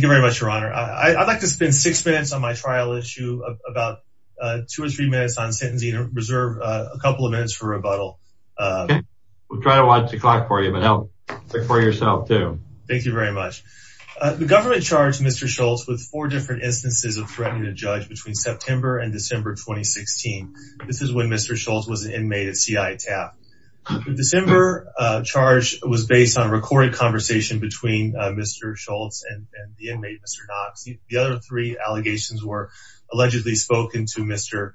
The government charged Mr. Shults with four different instances of threatening a judge between September and December 2016. This is when Mr. Shults was an inmate at C.I. TAP. The December charge was based on a recorded conversation between Mr. Shults and the inmate Mr. Knox. The other three allegations were allegedly spoken to Mr.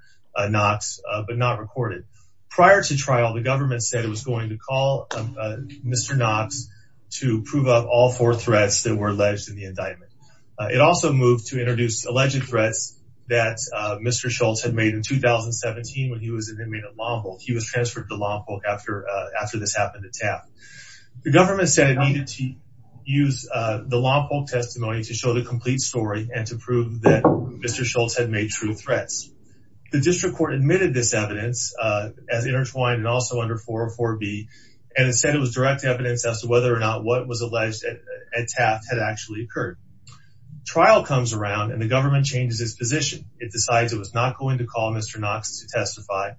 Knox, but not recorded. Prior to trial, the government said it was going to call Mr. Knox to prove up all four threats that were alleged in the indictment. It also moved to introduce alleged threats that Mr. Shults had made in 2017 when he was an inmate at Lompo. He was transferred to Lompo after this happened at TAP. The government said it needed to use the Lompo testimony to show the complete story and to prove that Mr. Shults had made true threats. The district court admitted this evidence as intertwined and also under 404B, and said it was direct evidence as to whether or not what was alleged at TAP had actually occurred. Trial comes around and the government changes its position. It decides it was not going to call Mr. Knox to testify,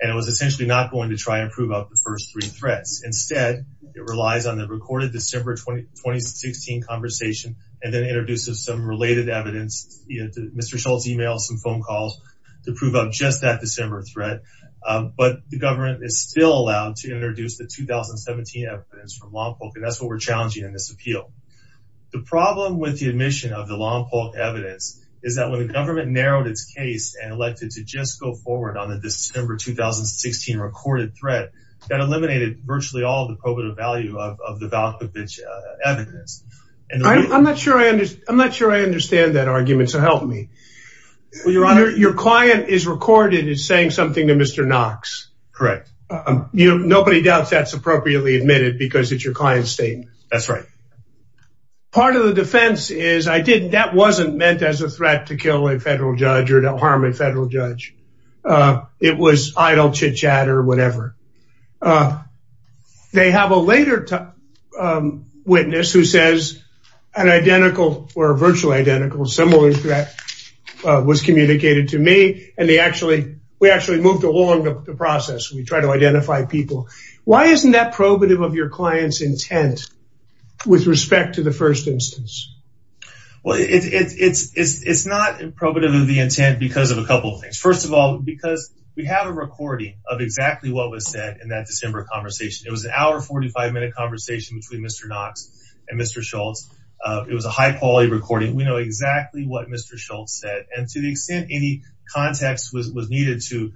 and it was essentially not going to try and prove up the first three threats. Instead, it relies on the recorded December 2016 conversation, and then introduces some related evidence, Mr. Shults' email, some phone calls, to prove up just that December threat. But the government is still allowed to introduce the 2017 evidence from Lompo, and that's what we're challenging in this appeal. The problem with the admission of the Lompo evidence is that when the government narrowed its case and elected to just go forward on the December 2016 recorded threat, that eliminated virtually all the probative value of the Valkovich evidence. I'm not sure I understand that argument, so help me. Your client is recorded as saying something to Mr. Knox. Correct. That's right. Part of the defense is that wasn't meant as a threat to kill a federal judge or to harm a federal judge. It was idle chitchat or whatever. They have a later witness who says an identical or virtually identical, similar threat was communicated to me, and we actually moved along the process. We try to identify people. Why isn't that probative of your client's intent with respect to the first instance? Well, it's not probative of the intent because of a couple of things. First of all, because we have a recording of exactly what was said in that December conversation. It was an hour 45 minute conversation between Mr. Knox and Mr. Schultz. It was a high quality recording. We know exactly what Mr. Schultz said, and to the extent any context was needed to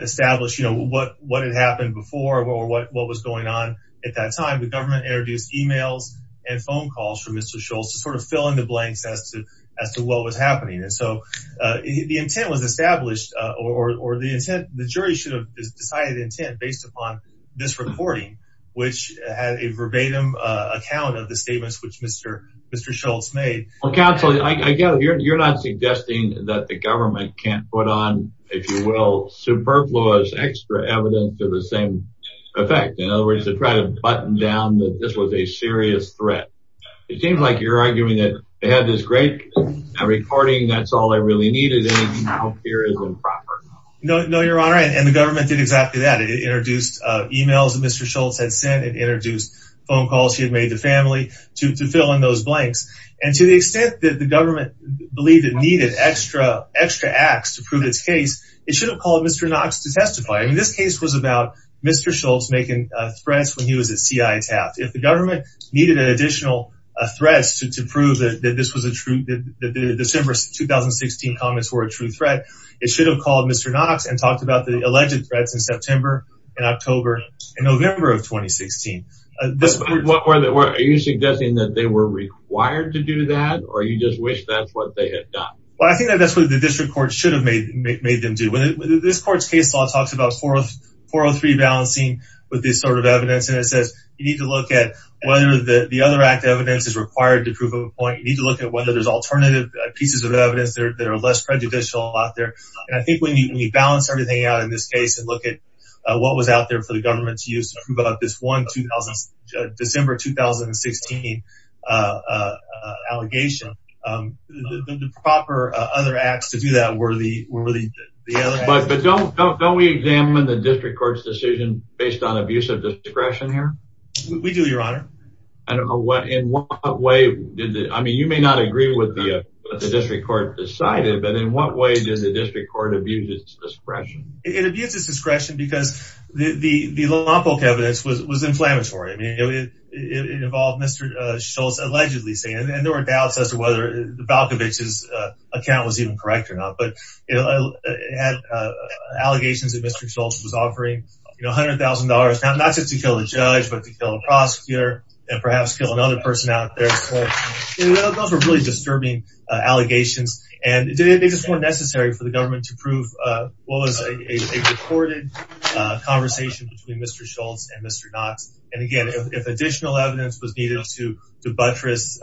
establish what had happened before or what was going on at that time, the government introduced emails and phone calls from Mr. Schultz to sort of fill in the blanks as to what was happening. And so, the intent was established, or the jury should have decided the intent based upon this recording, which had a verbatim account of the statements which Mr. Schultz made. Counsel, I get it. You're not suggesting that the government can't put on, if you will, superfluous extra evidence to the same effect. In other words, to try to button down that this was a serious threat. It seems like you're arguing that they had this great recording, that's all they really needed, and now here is improper. No, your honor, and the government did exactly that. It introduced emails that Mr. Schultz had sent, it introduced phone calls he had made to family to fill in those blanks. And to the extent that the government believed it needed extra acts to prove its case, it should have called Mr. Knox to testify. This case was about Mr. Schultz making threats when he was at CITAF. If the government needed additional threats to prove that the December 2016 comments were a true threat, it should have called Mr. Knox and talked about the alleged threats in September and October and November of 2016. Are you suggesting that they were required to do that, or you just wish that's what they had done? Well, I think that's what the district court should have made them do. This court's case law talks about 403 balancing with this sort of evidence, and it says you need to look at whether the other act of evidence is required to prove a point, you need to look at whether there's alternative pieces of evidence that are less prejudicial out there. And I think when you balance everything out in this case and look at what was out there for the government to use to prove out this one December 2016 allegation, the proper other acts to do that were the other acts. But don't we examine the district court's decision based on abuse of discretion here? We do, your honor. I don't know what, in what way, I mean you may not agree with what the district court decided, but in what way did the district court abuse its discretion? It abused its discretion because the law book evidence was inflammatory. I mean, it involved Mr. Schultz allegedly saying, and there were doubts as to whether Valkovich's account was even correct or not, but it had allegations that Mr. Schultz was offering $100,000, not just to kill the judge, but to kill the prosecutor, and perhaps kill another person out there, so those were really disturbing allegations. And it makes it more necessary for the government to prove what was a recorded conversation between Mr. Schultz and Mr. Knox. And again, if additional evidence was needed to buttress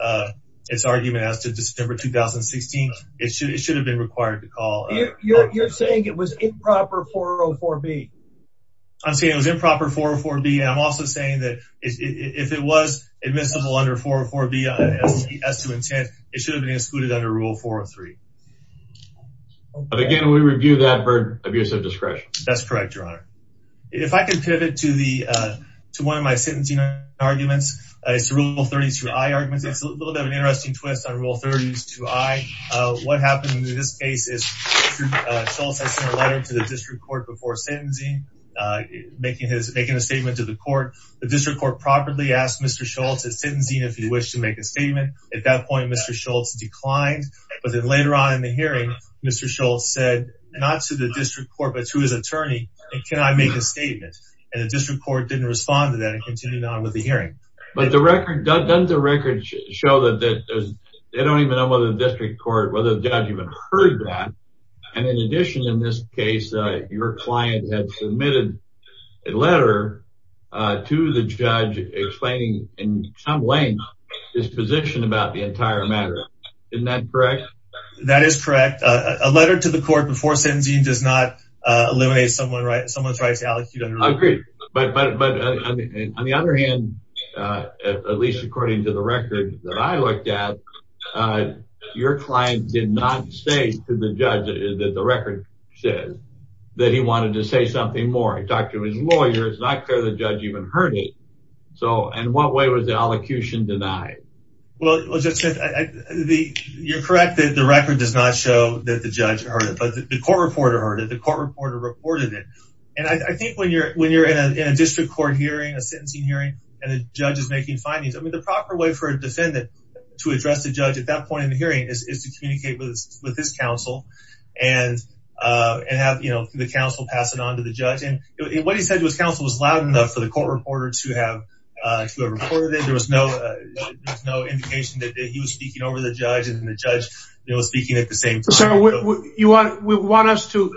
its argument as to December 2016, it should have been required to call. You're saying it was improper 404B. I'm saying it was improper 404B, and I'm also saying that if it was admissible under 404B as to intent, it should have been excluded under rule 403. But again, we review that for abuse of discretion. That's correct, your honor. If I can pivot to one of my sentencing arguments, it's rule 32I argument. It's a little bit of an interesting twist on rule 32I. What happened in this case is Schultz has sent a letter to the district court before sentencing, making a statement to the court. The district court properly asked Mr. Schultz at sentencing if he wished to make a statement. At that point, Mr. Schultz declined, but then later on in the hearing, Mr. Schultz said not to the district court but to his attorney, and can I make a statement? And the district court didn't respond to that and continued on with the hearing. But doesn't the record show that they don't even know whether the district court, whether the judge even heard that? And in addition, in this case, your client had submitted a letter to the judge explaining, in some way, his position about the entire matter. Isn't that correct? That is correct. A letter to the court before sentencing does not eliminate someone's right to allecute. I agree. But on the other hand, at least according to the record that I looked at, your client did not say to the judge that the record says that he wanted to say something more. He talked to his lawyer. It's not clear the judge even heard it. In what way was the allocution denied? Well, Judge Smith, you're correct that the record does not show that the judge heard it, but the court reporter heard it. The court reporter reported it. And I think when you're in a district court hearing, a sentencing hearing, and a judge is making findings, the proper way for a defendant to address the judge at that point in the hearing is to communicate with his counsel and have the counsel pass it on to the judge. And what he said to his counsel was loud enough for the court reporter to have reported it. There was no indication that he was speaking over the judge, and the judge was speaking at the same time. So you want us to...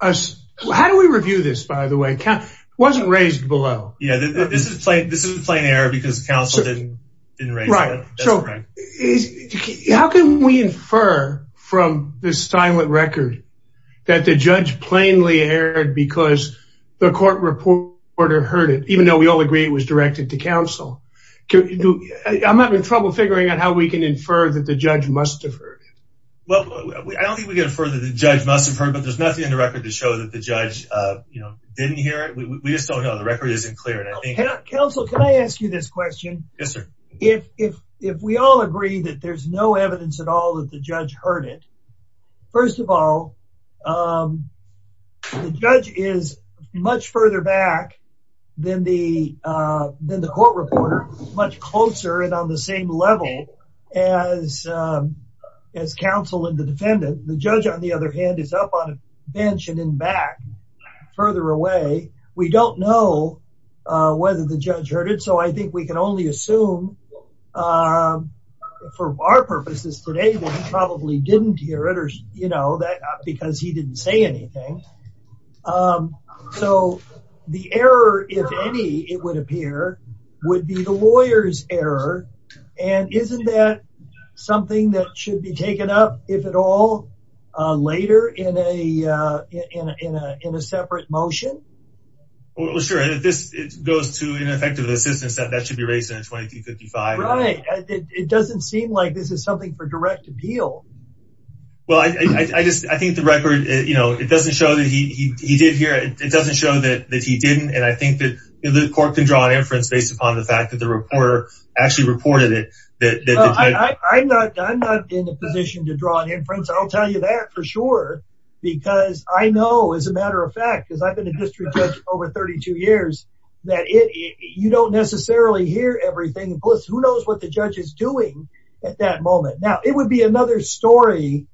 How do we review this, by the way? It wasn't raised below. Yeah, this is a plain error because counsel didn't raise it. Right. How can we infer from this silent record that the judge plainly erred because the court reporter heard it, even though we all agree it was directed to counsel? I'm having trouble figuring out how we can infer that the judge must have heard it. Well, I don't think we can infer that the judge must have heard it, but there's nothing in the record to show that the judge didn't hear it. We just don't know. The record isn't clear, and I think... Counsel, can I ask you this question? Yes, sir. If we all agree that there's no evidence at all that the judge heard it, first of all, the judge is much further back than the court reporter, much closer and on the same level as counsel and the defendant. The judge, on the other hand, is up on a bench and then back further away. We don't know whether the judge heard it. So I think we can only assume, for our purposes today, that he probably didn't hear it because he didn't say anything. So the error, if any, it would appear, would be the lawyer's error. And isn't that something that should be taken up, if at all, later in a separate motion? Well, sure. And if this goes to ineffective assistance, that should be raised in a 2255. Right. It doesn't seem like this is something for direct appeal. Well, I think the record, it doesn't show that he did hear it. It doesn't show that he didn't. And I think that the court can draw an inference based upon the fact that the reporter actually reported it. I'm not in a position to draw an inference. I'll tell you that for sure, because I know, as a matter of fact, because I've been a district judge over 32 years, that you don't necessarily hear everything. Plus, who knows what the judge is doing at that moment. Now, it would be another story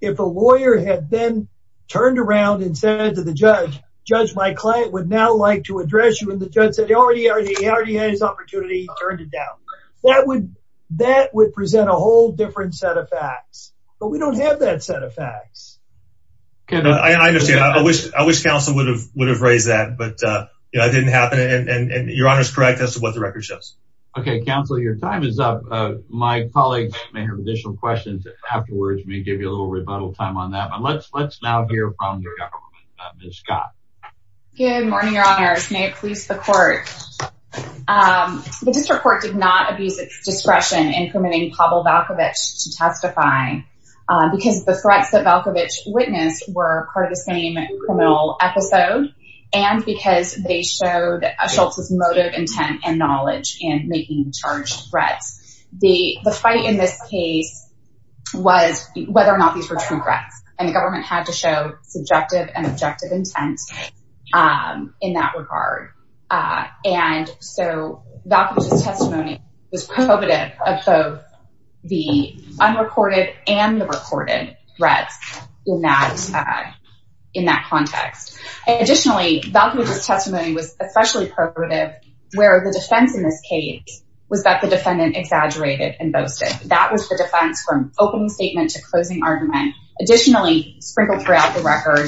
if a lawyer had then turned around and said to the judge, Judge, my client would now like to address you. And the judge said, he already had his opportunity, he turned it down. That would present a whole different set of facts. But we don't have that set of facts. I understand. I wish counsel would have raised that. But it didn't happen. And your honor's correct as to what the record shows. Okay, counsel, your time is up. My colleagues may have additional questions afterwards. We may give you a little rebuttal time on that. But let's now hear from the government. Ms. Scott. Good morning, your honors. May it please the court. The district court did not abuse its discretion in permitting Pavel Valkovich to testify. Because the threats that Valkovich witnessed were part of the same criminal episode. And because they showed Schultz's motive, intent, and knowledge in making charged threats. The fight in this case was whether or not these were true threats. And the government had to show subjective and objective intent in that regard. And so Valkovich's testimony was probative of both the unrecorded and the recorded threats in that context. Additionally, Valkovich's testimony was especially probative where the defense in this case was that the defendant exaggerated and boasted. That was the defense from opening statement to closing argument. Additionally, sprinkled throughout the record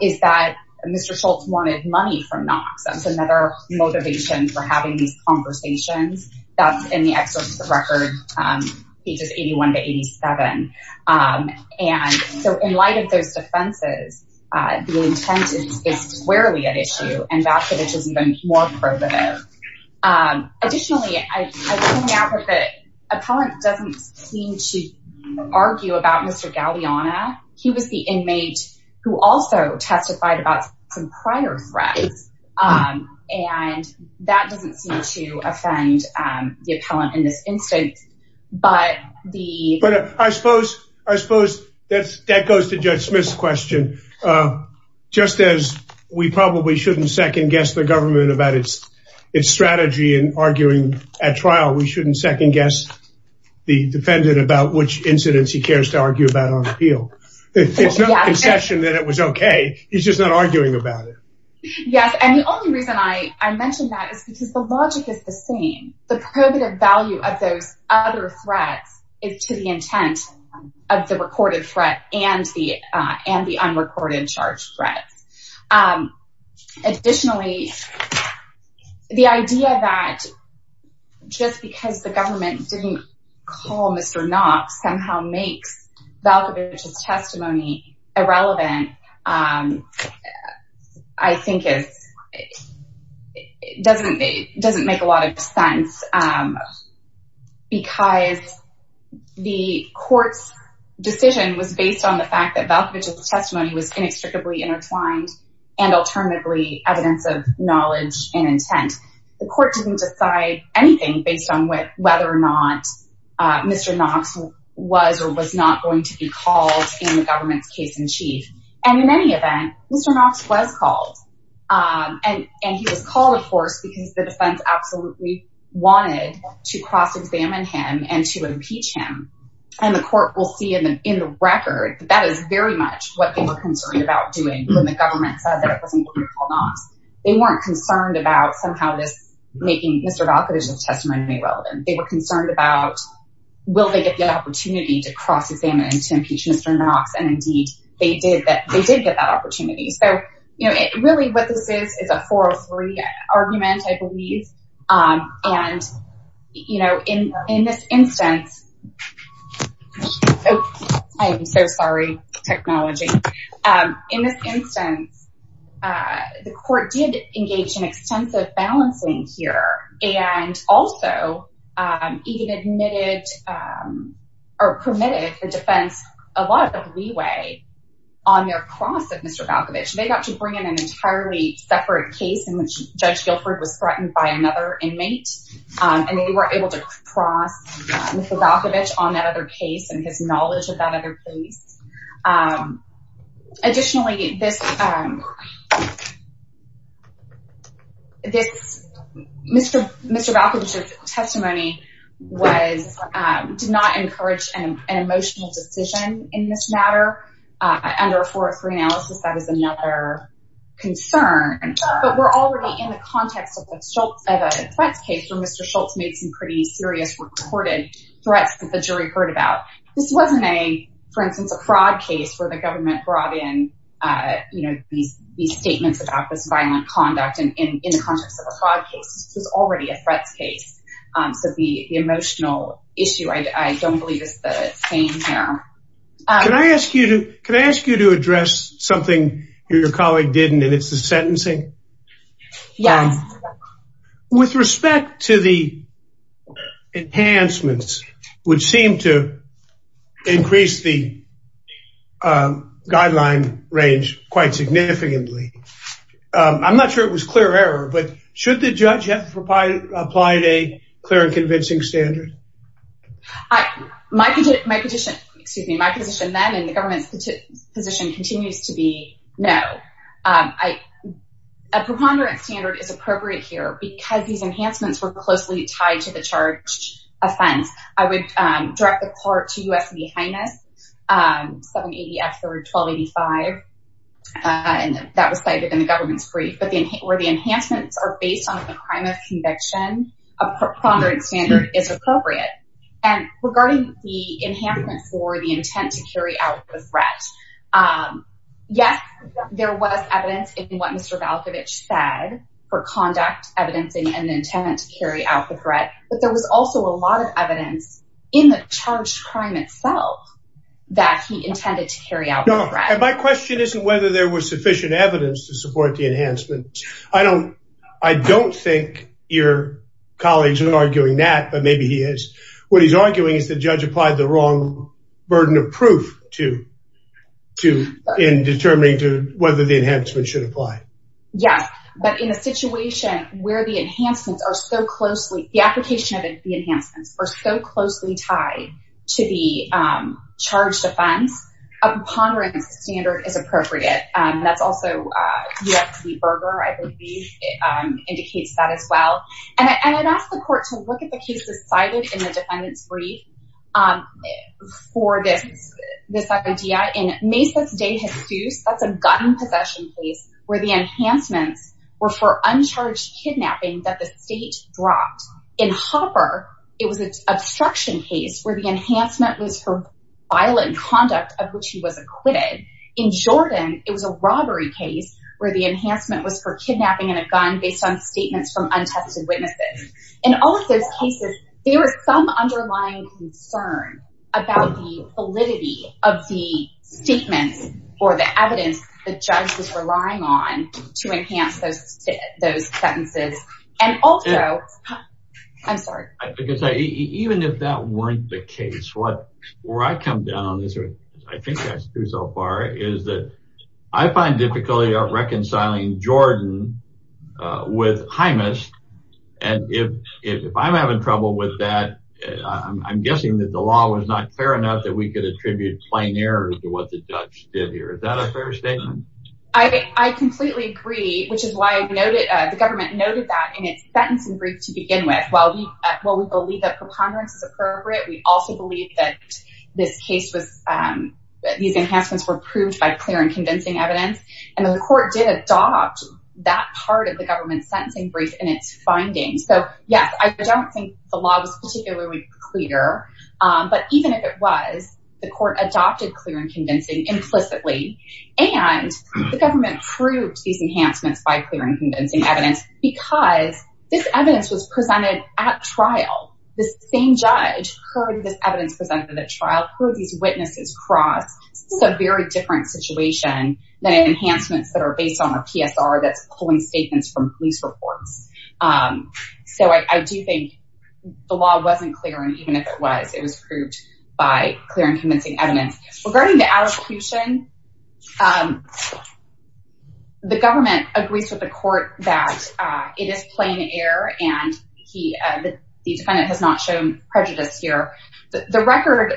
is that Mr. Schultz wanted money from Knox. That's another motivation for having these conversations. That's in the excerpt of the record, pages 81 to 87. And so in light of those defenses, the intent is squarely at issue. And Valkovich has been more probative. Additionally, I would point out that Appellant doesn't seem to argue about Mr. Galeana. He was the inmate who also testified about some prior threats. And that doesn't seem to offend the appellant in this instance. But I suppose that goes to Judge Smith's question. Just as we probably shouldn't second-guess the government about its strategy in arguing at trial, we shouldn't second-guess the defendant about which incidents he cares to argue about on appeal. It's no concession that it was okay. He's just not arguing about it. Yes, and the only reason I mentioned that is because the logic is the same. The probative value of those other threats is to the intent of the recorded threat and the unrecorded charge threat. Additionally, the idea that just because the government didn't call Mr. Knox somehow makes Valkovich's testimony irrelevant, I think it doesn't make a lot of sense. Because the court's decision was based on the fact that Valkovich's testimony was inextricably intertwined and alternately evidence of knowledge and intent. The court didn't decide anything based on whether or not Mr. Knox was or was not going to be called in the government's case-in-chief. And in any event, Mr. Knox was called. And he was called, of course, because the defense absolutely wanted to cross-examine him and to impeach him. And the court will see in the record that that is very much what they were concerned about doing when the government said that it wasn't going to call Knox. They weren't concerned about somehow this making Mr. Valkovich's testimony irrelevant. They were concerned about, will they get the opportunity to cross-examine and to impeach Mr. Knox? And indeed, they did get that opportunity. So really what this is, is a 403 argument, I believe. And in this instance, I am so sorry, technology. In this instance, the court did engage in extensive balancing here and also even permitted the defense a lot of leeway on their cross of Mr. Valkovich. They got to bring in an entirely separate case in which Judge Guilford was threatened by another inmate. And they were able to cross Mr. Valkovich on that other case and his knowledge of that other case. Additionally, Mr. Valkovich's testimony did not encourage an emotional decision in this matter. Under a 403 analysis, that is another concern. But we're already in the context of a threats case where Mr. Schultz made some pretty serious reported threats that the jury heard about. This wasn't a, for instance, a fraud case where the government brought in these statements about this violent conduct in the context of a fraud case. This was already a threats case. So the emotional issue, I don't believe, is the same here. Can I ask you to address something your colleague didn't, and it's the sentencing? Yes. With respect to the enhancements, which seem to increase the guideline range quite significantly, I'm not sure it was clear error, but should the judge have applied a clear and convincing standard? My position then, and the government's position continues to be no. A preponderant standard is appropriate here because these enhancements were closely tied to the charge of offense. I would direct the court to U.S. and the Highness, 780 F. 3rd, 1285, and that was cited in the government's brief. But where the enhancements are based on the crime of conviction, a preponderant standard is appropriate. And regarding the enhancement for the intent to carry out the threat, yes, there was evidence in what Mr. Valkovich said for conduct, evidencing, and the intent to carry out the threat. But there was also a lot of evidence in the charged crime itself that he intended to carry out the threat. My question isn't whether there was sufficient evidence to support the enhancement. I don't think your colleague is arguing that, but maybe he is. What he's arguing is the judge applied the wrong burden of proof in determining whether the enhancement should apply. Yes, but in a situation where the application of the enhancements are so closely tied to the charge of offense, a preponderant standard is appropriate. That's also U.S. v. Berger, I believe, indicates that as well. And I'd ask the court to look at the cases cited in the defendant's brief for this idea. In Mesa de Jesus, that's a gun possession case where the enhancements were for uncharged kidnapping that the state dropped. In Hopper, it was an obstruction case where the enhancement was for violent conduct of which he was acquitted. In Jordan, it was a robbery case where the enhancement was for kidnapping in a gun based on statements from untested witnesses. In all of those cases, there was some underlying concern about the validity of the statements or the evidence the judge was relying on to enhance those sentences. And also, I'm sorry. Even if that weren't the case, where I come down, I think that's true so far, is that I find difficulty reconciling Jordan with Jaimus. And if I'm having trouble with that, I'm guessing that the law was not fair enough that we could attribute plain error to what the judge did here. Is that a fair statement? I completely agree, which is why the government noted that in its sentencing brief to begin with, while we believe that preponderance is appropriate, we also believe that these enhancements were proved by clear and convincing evidence. And the court did adopt that part of the government's sentencing brief in its findings. So yes, I don't think the law was particularly clear. But even if it was, the court adopted clear and convincing implicitly. And the government proved these enhancements by clear and convincing evidence because this at trial, the same judge heard this evidence presented at trial, heard these witnesses cross. This is a very different situation than enhancements that are based on a PSR that's pulling statements from police reports. So I do think the law wasn't clear. And even if it was, it was proved by clear and convincing evidence. Regarding the advocation, the government agrees with the court that it is plain error. And the defendant has not shown prejudice here. The record...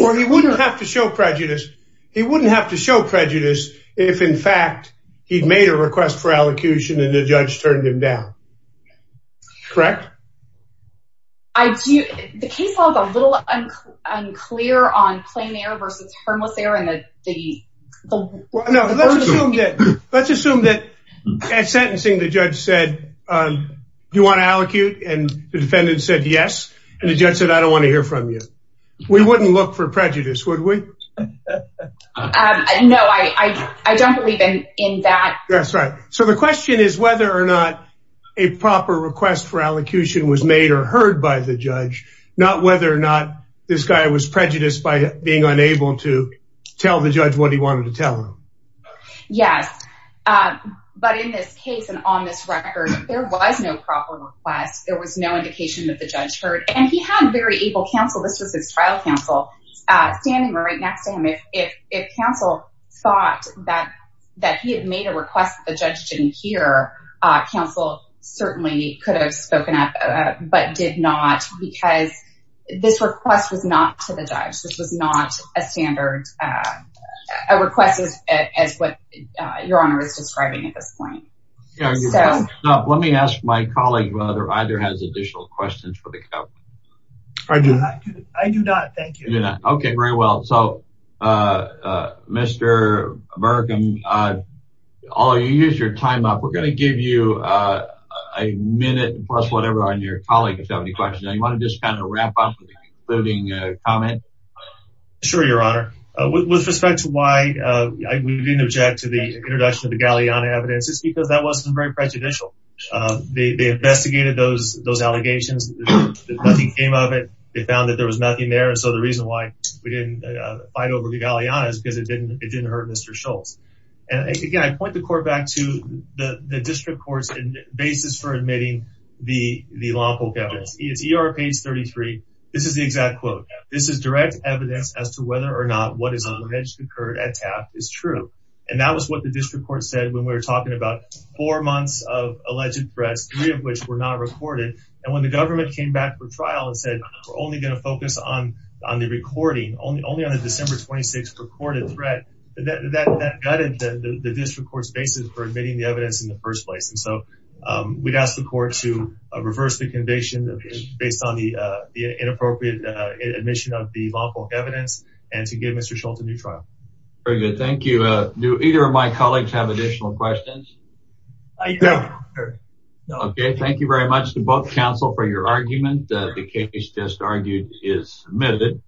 Or he wouldn't have to show prejudice. He wouldn't have to show prejudice if, in fact, he'd made a request for allocution and the judge turned him down. Correct? I do. The case was a little unclear on plain error versus harmless error. No, let's assume that at sentencing, the judge said, do you want to allocute? And the defendant said, yes. And the judge said, I don't want to hear from you. We wouldn't look for prejudice, would we? No, I don't believe in that. That's right. So the question is whether or not a proper request for allocution was made or heard by the judge, not whether or not this guy was prejudiced by being unable to. Tell the judge what he wanted to tell him. Yes. But in this case and on this record, there was no proper request. There was no indication that the judge heard. And he had very able counsel. This was his trial counsel standing right next to him. If counsel thought that he had made a request that the judge didn't hear, counsel certainly could have spoken up but did not because this request was not to the judge. This was not a standard request as what your honor is describing at this point. Let me ask my colleague whether either has additional questions for the court. I do not. Thank you. Okay, very well. So, Mr. Bergen, I'll use your time up. We're going to give you a minute plus whatever on your colleague if you have any questions. You want to just kind of wrap up with a concluding comment? Sure, your honor. With respect to why we didn't object to the introduction of the Galeana evidence, it's because that wasn't very prejudicial. They investigated those allegations. Nothing came of it. They found that there was nothing there. And so the reason why we didn't fight over the Galeana is because it didn't hurt Mr. Schultz. And again, I point the court back to the district court's basis for admitting the lawful evidence. It's ER page 33. This is the exact quote. This is direct evidence as to whether or not what is alleged occurred at TAF is true. And that was what the district court said when we were talking about four months of alleged threats, three of which were not recorded. And when the government came back for trial and said, we're only going to focus on the recording, only on the December 26th recorded threat, that gutted the district court's basis for admitting the evidence in the first place. And so we'd ask the court to reverse the conviction based on the inappropriate admission of the lawful evidence and to give Mr. Schultz a new trial. Very good. Thank you. Do either of my colleagues have additional questions? Okay. Thank you very much to both counsel for your argument. The case just argued is submitted.